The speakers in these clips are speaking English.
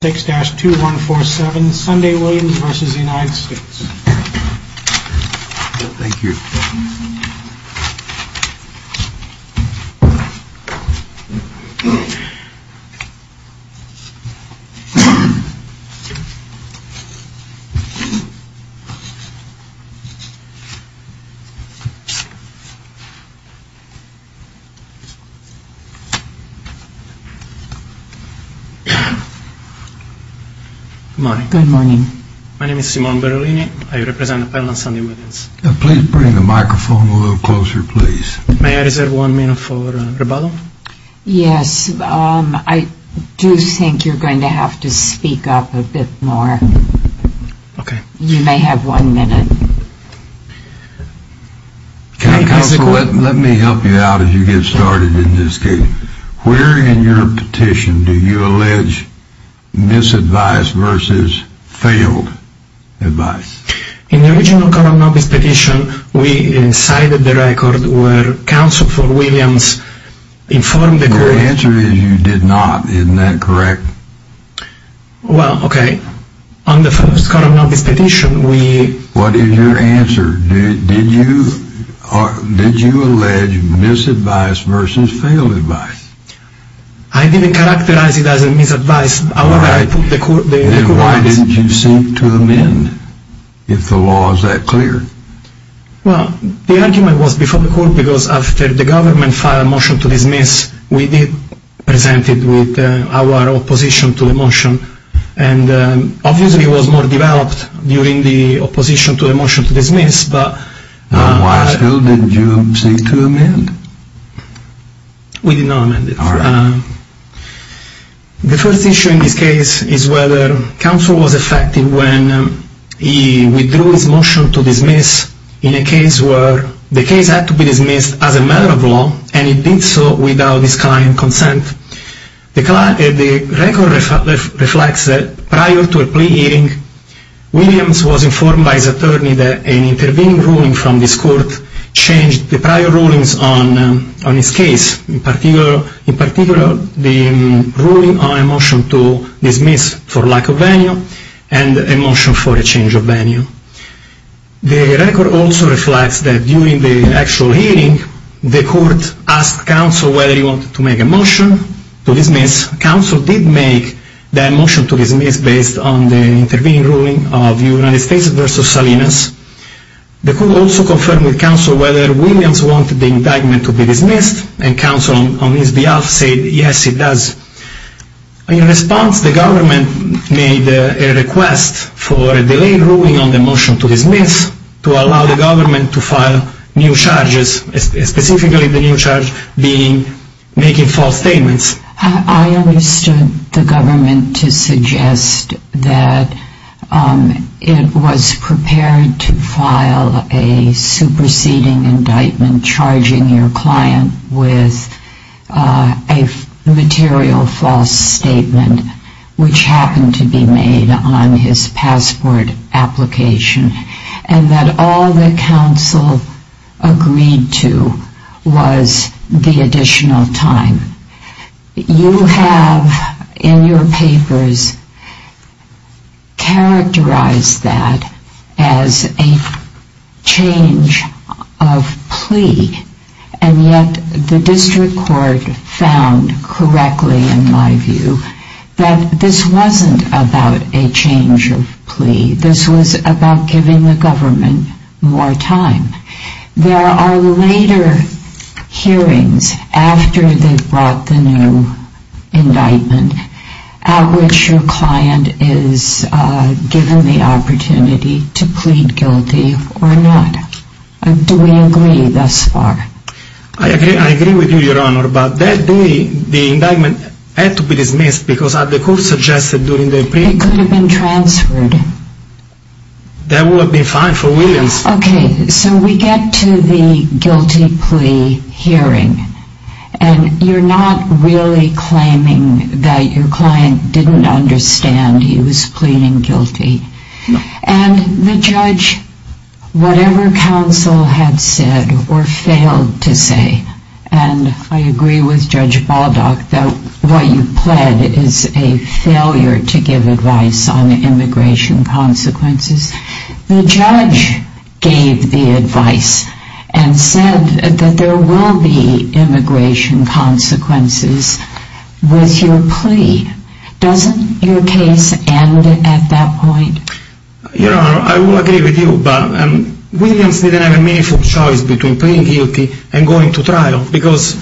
6-2147 Sunday Williams vs. United States Thank you. Good morning. Good morning. My name is Simone Berlini. I represent Appellant Sunday Williams. Please bring the microphone a little closer, please. May I reserve one minute for rebuttal? Yes. I do think you're going to have to speak up a bit more. Okay. You may have one minute. Counsel, let me help you out as you get started in this case. Where in your petition do you allege misadvised versus failed advice? In the original Coram Nobis petition, we cited the record where Counsel for Williams informed the court… Your answer is you did not. Isn't that correct? Well, okay. On the first Coram Nobis petition, we… What is your answer? Did you allege misadvised versus failed advice? I didn't characterize it as a misadvice. Then why didn't you seek to amend if the law is that clear? Well, the argument was before the court because after the government filed a motion to dismiss, we did present it with our opposition to the motion. Obviously, it was more developed during the opposition to the motion to dismiss, but… Then why still didn't you seek to amend? We did not amend it. All right. The first issue in this case is whether Counsel was effective when he withdrew his motion to dismiss in a case where the case had to be dismissed as a matter of law, and he did so without his client's consent. The record reflects that prior to a plea hearing, Williams was informed by his attorney that an intervening ruling from this court changed the prior rulings on his case, in particular the ruling on a motion to dismiss for lack of venue and a motion for a change of venue. The record also reflects that during the actual hearing, the court asked Counsel whether he wanted to make a motion to dismiss. Counsel did make that motion to dismiss based on the intervening ruling of United States v. Salinas. The court also confirmed with Counsel whether Williams wanted the indictment to be dismissed, and Counsel, on his behalf, said, yes, he does. In response, the government made a request for a delayed ruling on the motion to dismiss to allow the government to file new charges, specifically the new charge being making false statements. I understood the government to suggest that it was prepared to file a superseding indictment charging your client with a material false statement, which happened to be made on his passport application. And that all that Counsel agreed to was the additional time. You have, in your papers, characterized that as a change of plea, and yet the district court found correctly, in my view, that this wasn't about a change of plea. This was about giving the government more time. There are later hearings, after they've brought the new indictment, at which your client is given the opportunity to plead guilty or not. Do we agree thus far? I agree with you, Your Honor, but that day the indictment had to be dismissed It could have been transferred. That would have been fine for Williams. Okay, so we get to the guilty plea hearing, and you're not really claiming that your client didn't understand he was pleading guilty. And the judge, whatever Counsel had said or failed to say, and I agree with Judge Baldock that what you pled is a failure to give advice on immigration consequences. The judge gave the advice and said that there will be immigration consequences with your plea. Doesn't your case end at that point? Your Honor, I will agree with you, but Williams didn't have a meaningful choice between pleading guilty and going to trial, because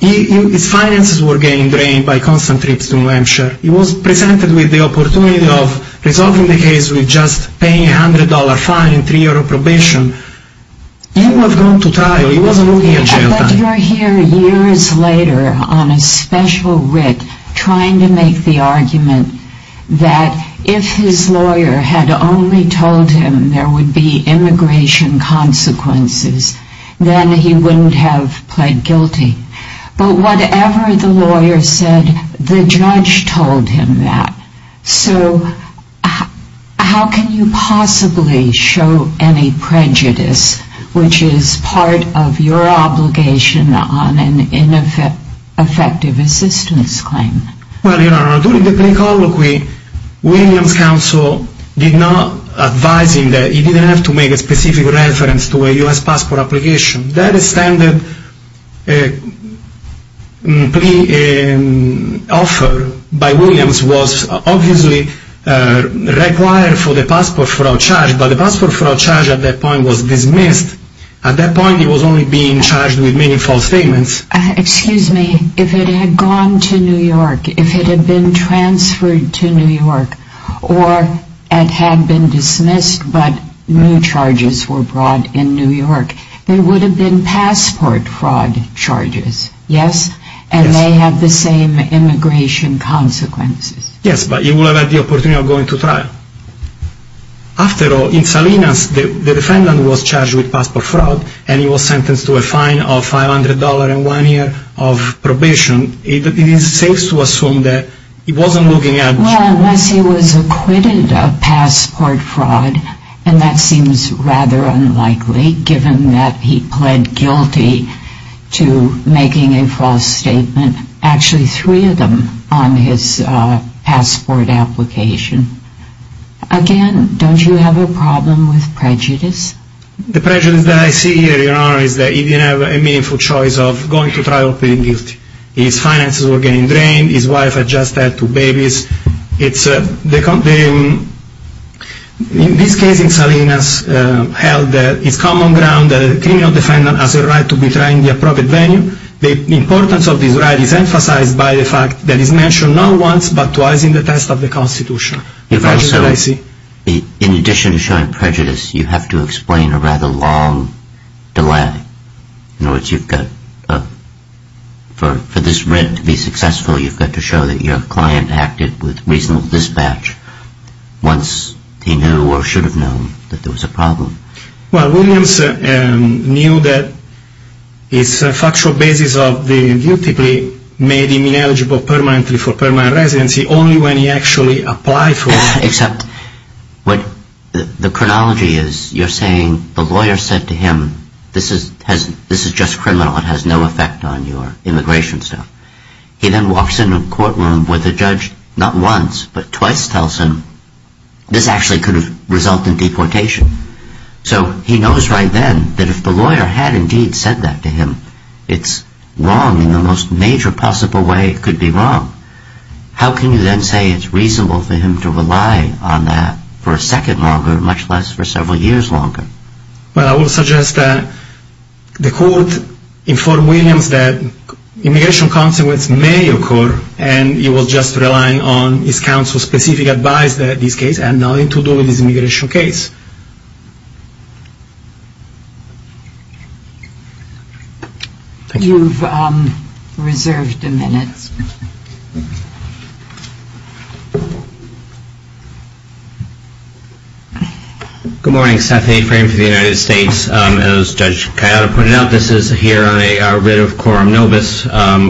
his finances were getting drained by constant trips to New Hampshire. He was presented with the opportunity of resolving the case with just paying a $100 fine and three years of probation. He would have gone to trial. He wasn't looking at jail time. But you're here years later on a special writ, trying to make the argument that if his lawyer had only told him there would be immigration consequences, then he wouldn't have pled guilty. But whatever the lawyer said, the judge told him that. So how can you possibly show any prejudice, which is part of your obligation on an ineffective assistance claim? Well, Your Honor, during the plea colloquy, Williams' counsel did not advise him that he didn't have to make a specific reference to a U.S. passport application. That extended plea offer by Williams was obviously required for the passport fraud charge, but the passport fraud charge at that point was dismissed. At that point, he was only being charged with making false statements. Excuse me. If it had gone to New York, if it had been transferred to New York, or it had been dismissed but new charges were brought in New York, there would have been passport fraud charges, yes? Yes. And they have the same immigration consequences. Yes, but he would have had the opportunity of going to trial. After all, in Salinas, the defendant was charged with passport fraud and he was sentenced to a fine of $500 and one year of probation. It is safe to assume that he wasn't looking at... Well, unless he was acquitted of passport fraud, and that seems rather unlikely given that he pled guilty to making a false statement, actually three of them on his passport application. Again, don't you have a problem with prejudice? The prejudice that I see here, Your Honor, is that he didn't have a meaningful choice of going to trial or pleading guilty. His finances were getting drained, his wife had just had two babies. In this case, in Salinas, held that it's common ground that a criminal defendant has a right to betray in the appropriate venue. The importance of this right is emphasized by the fact that it's mentioned not once, but twice in the test of the Constitution. In addition to showing prejudice, you have to explain a rather long delay. In other words, for this writ to be successful, you've got to show that your client acted with reasonable dispatch once he knew or should have known that there was a problem. Well, Williams knew that his factual basis of being guilty made him ineligible permanently for permanent residency only when he actually applied for it. Except what the chronology is, you're saying the lawyer said to him, this is just criminal, it has no effect on your immigration stuff. He then walks into a courtroom with a judge, not once, but twice, tells him this actually could have resulted in deportation. So he knows right then that if the lawyer had indeed said that to him, it's wrong in the most major possible way it could be wrong. How can you then say it's reasonable for him to rely on that for a second longer, much less for several years longer? Well, I would suggest that the court informed Williams that immigration consequences may occur, and he was just relying on his counsel's specific advice in this case and nothing to do with this immigration case. Thank you. You've reserved a minute. Good morning. Seth A. Frame for the United States. As Judge Coyotta pointed out, this is here on a writ of quorum novus,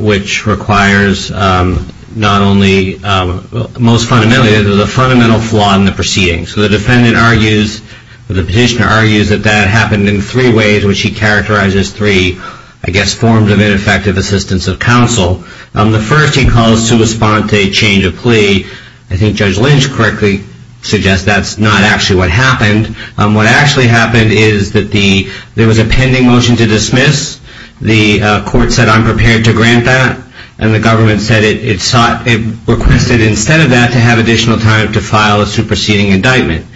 which requires not only most fundamentally, but the fundamental flaw in the proceedings. So the defendant argues, or the petitioner argues, that that happened in three ways, which he characterizes as three, I guess, forms of ineffective assistance of counsel. The first he calls to respond to a change of plea. I think Judge Lynch correctly suggests that's not actually what happened. What actually happened is that there was a pending motion to dismiss. The court said, I'm prepared to grant that, and the government said it requested instead of that to have additional time to file a superseding indictment.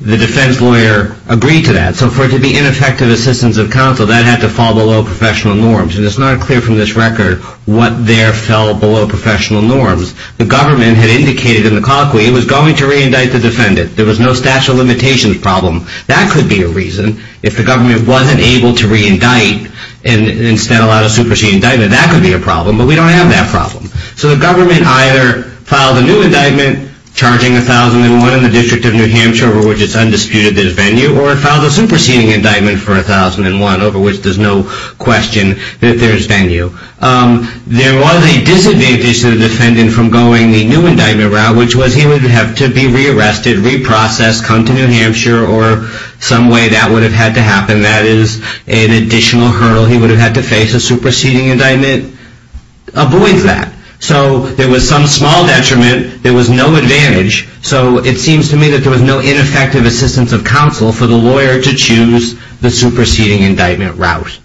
The defense lawyer agreed to that. So for it to be ineffective assistance of counsel, that had to fall below professional norms, and it's not clear from this record what there fell below professional norms. The government had indicated in the colloquy it was going to re-indict the defendant. There was no statute of limitations problem. That could be a reason. If the government wasn't able to re-indict and instead allow a superseding indictment, that could be a problem, but we don't have that problem. So the government either filed a new indictment charging 1,001 in the District of New Hampshire over which it's undisputed that it's venue, or it filed a superseding indictment for 1,001 over which there's no question that there's venue. There was a disadvantage to the defendant from going the new indictment route, which was he would have to be re-arrested, reprocessed, come to New Hampshire, or some way that would have had to happen. That is an additional hurdle. He would have had to face a superseding indictment. So there was some small detriment. There was no advantage. So it seems to me that there was no ineffective assistance of counsel for the lawyer to choose the superseding indictment route.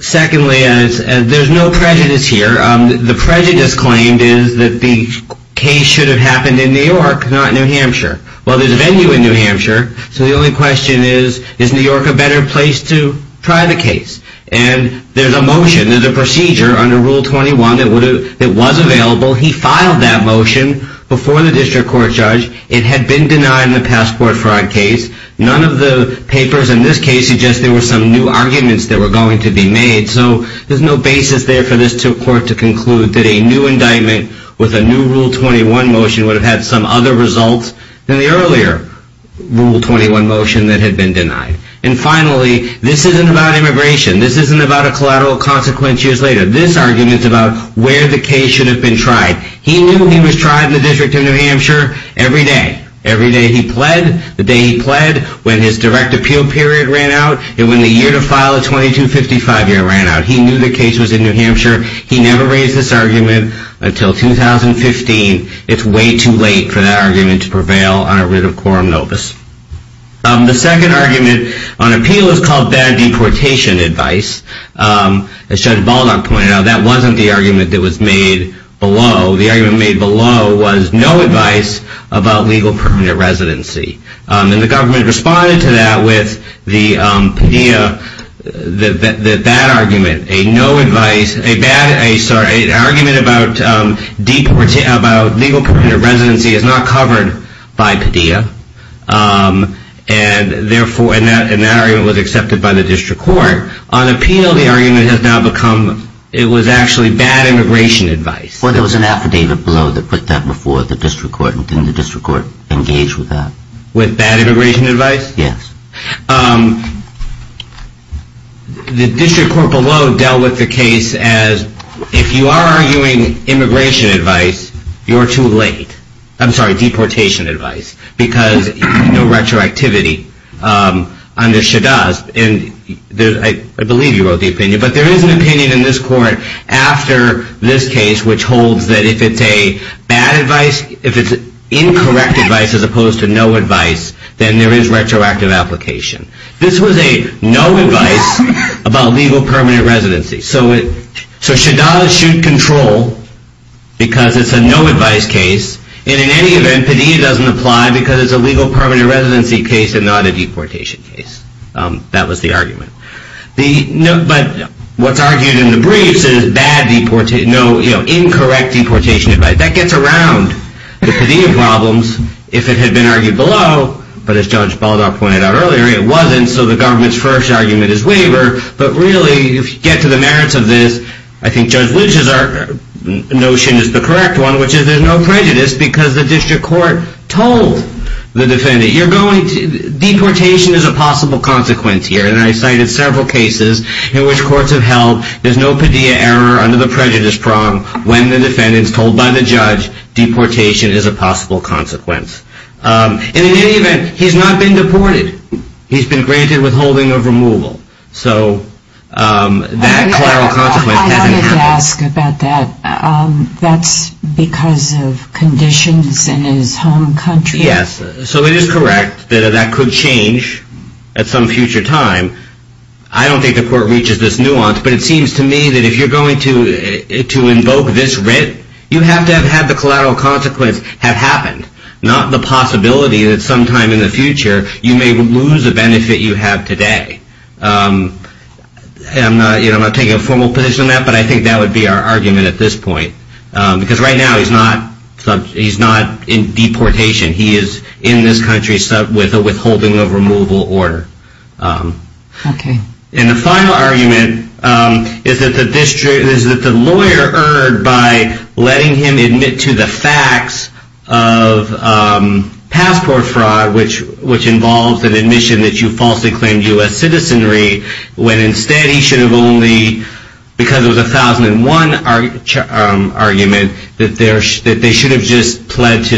Secondly, there's no prejudice here. The prejudice claimed is that the case should have happened in New York, not New Hampshire. Well, there's a venue in New Hampshire, so the only question is, is New York a better place to try the case? And there's a motion, there's a procedure under Rule 21 that was available. He filed that motion before the district court judge. It had been denied in the Passport Fraud case. None of the papers in this case suggest there were some new arguments that were going to be made. So there's no basis there for this court to conclude that a new indictment with a new Rule 21 motion would have had some other results than the earlier Rule 21 motion that had been denied. And finally, this isn't about immigration. This isn't about a collateral consequence years later. This argument is about where the case should have been tried. He knew he was tried in the District of New Hampshire every day. Every day he pled, the day he pled, when his direct appeal period ran out, and when the year to file a 2255 year ran out. He knew the case was in New Hampshire. He never raised this argument until 2015. It's way too late for that argument to prevail on a writ of quorum notice. The second argument on appeal is called bad deportation advice. As Judge Baldock pointed out, that wasn't the argument that was made below. The argument made below was no advice about legal permanent residency. And the government responded to that with the PDEA, that that argument, a no advice, a bad, sorry, an argument about legal permanent residency is not covered by PDEA. And that argument was accepted by the district court. On appeal, the argument has now become it was actually bad immigration advice. Well, there was an affidavit below that put that before the district court, and then the district court engaged with that. With bad immigration advice? Yes. The district court below dealt with the case as, if you are arguing immigration advice, you're too late. I'm sorry, deportation advice. Because no retroactivity under SHADAS, and I believe you wrote the opinion, but there is an opinion in this court after this case, which holds that if it's a bad advice, if it's incorrect advice as opposed to no advice, then there is retroactive application. This was a no advice about legal permanent residency. So SHADAS should control because it's a no advice case, and in any event, PDEA doesn't apply because it's a legal permanent residency case and not a deportation case. That was the argument. But what's argued in the briefs is bad, incorrect deportation advice. That gets around the PDEA problems. If it had been argued below, but as Judge Baldock pointed out earlier, it wasn't, so the government's first argument is waiver. But really, if you get to the merits of this, I think Judge Lujan's notion is the correct one, which is there's no prejudice because the district court told the defendant, deportation is a possible consequence here, and I cited several cases in which courts have held there's no PDEA error under the prejudice prong when the defendant's told by the judge that deportation is a possible consequence. And in any event, he's not been deported. He's been granted withholding of removal. So that collateral consequence hasn't happened. I wanted to ask about that. That's because of conditions in his home country? Yes. So it is correct that that could change at some future time. I don't think the court reaches this nuance, but it seems to me that if you're going to invoke this writ, you have to have had the collateral consequence have happened, not the possibility that sometime in the future you may lose the benefit you have today. I'm not taking a formal position on that, but I think that would be our argument at this point. Because right now he's not in deportation. He is in this country with a withholding of removal order. Okay. And the final argument is that the lawyer erred by letting him admit to the facts of passport fraud, which involves an admission that you falsely claimed U.S. citizenry, when instead he should have only, because it was a 1001 argument, that they should have just pled to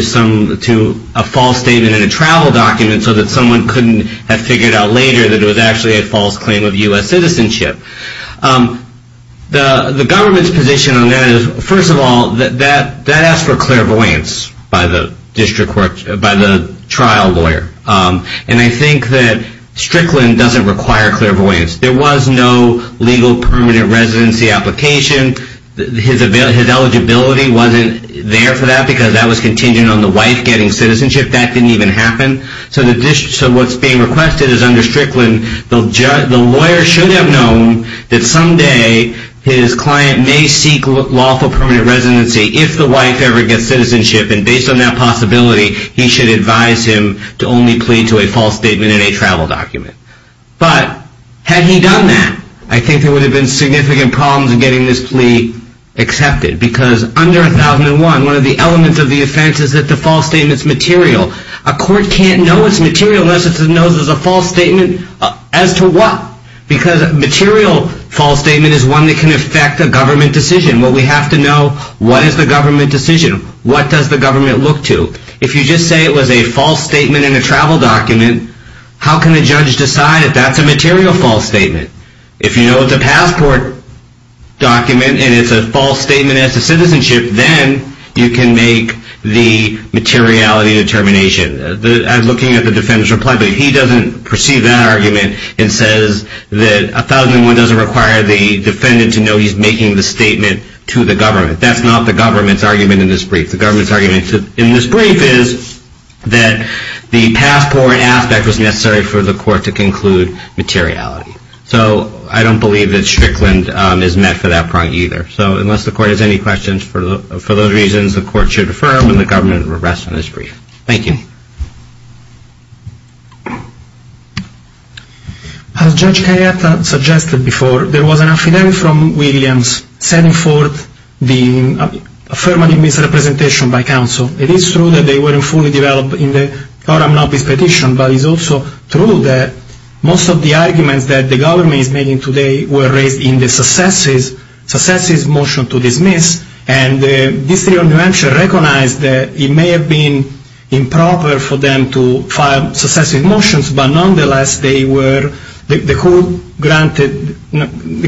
a false statement in a travel document so that someone couldn't have figured out later that it was actually a false claim of U.S. citizenship. The government's position on that is, first of all, that asks for clairvoyance by the trial lawyer. And I think that Strickland doesn't require clairvoyance. There was no legal permanent residency application. His eligibility wasn't there for that because that was contingent on the wife getting citizenship. That didn't even happen. So what's being requested is under Strickland, the lawyer should have known that someday his client may seek lawful permanent residency if the wife ever gets citizenship. And based on that possibility, he should advise him to only plead to a false statement in a travel document. But had he done that, I think there would have been significant problems in getting this plea accepted. Because under 1001, one of the elements of the offense is that the false statement's material. A court can't know it's material unless it knows it's a false statement. As to what? Because a material false statement is one that can affect a government decision. What we have to know, what is the government decision? What does the government look to? If you just say it was a false statement in a travel document, how can a judge decide if that's a material false statement? If you know it's a passport document and it's a false statement as to citizenship, then you can make the materiality determination. I'm looking at the defendant's reply, but he doesn't perceive that argument and says that 1001 doesn't require the defendant to know he's making the statement to the government. That's not the government's argument in this brief. The government's argument in this brief is that the passport aspect was necessary for the court to conclude materiality. So I don't believe that Strickland is met for that part either. So unless the court has any questions, for those reasons, the court should defer when the government has regressed in this brief. Thank you. As Judge Carietta suggested before, there was an affidavit from Williams setting forth the affirmative misrepresentation by counsel. It is true that they weren't fully developed in the Coram Nobis petition, but it's also true that most of the arguments that the government is making today were raised in the Successive Motion to Dismiss, and the District of New Hampshire recognized that it may have been improper for them to file successive motions, but nonetheless, the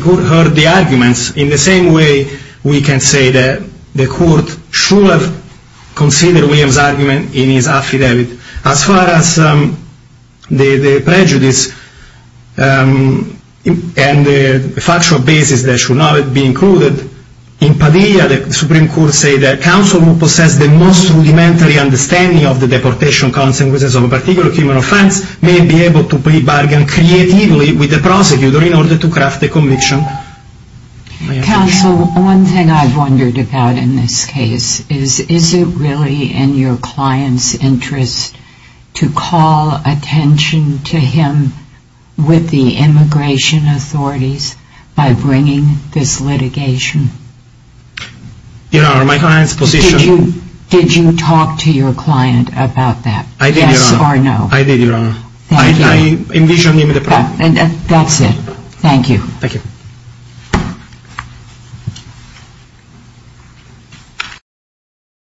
court heard the arguments. In the same way, we can say that the court should have considered Williams' argument in his affidavit. As far as the prejudice and factual basis that should not be included, in Padilla, the Supreme Court said that counsel who possessed the most rudimentary understanding of the deportation consequences of a particular human offense may be able to bargain creatively with the prosecutor in order to craft the conviction. Counsel, one thing I've wondered about in this case is, is it really in your client's interest to call attention to him with the immigration authorities by bringing this litigation? Your Honor, my client's position... Did you talk to your client about that? I did, Your Honor. Yes or no? I did, Your Honor. Thank you. I envisioned him the problem. That's it. Thank you. Thank you. Thank you.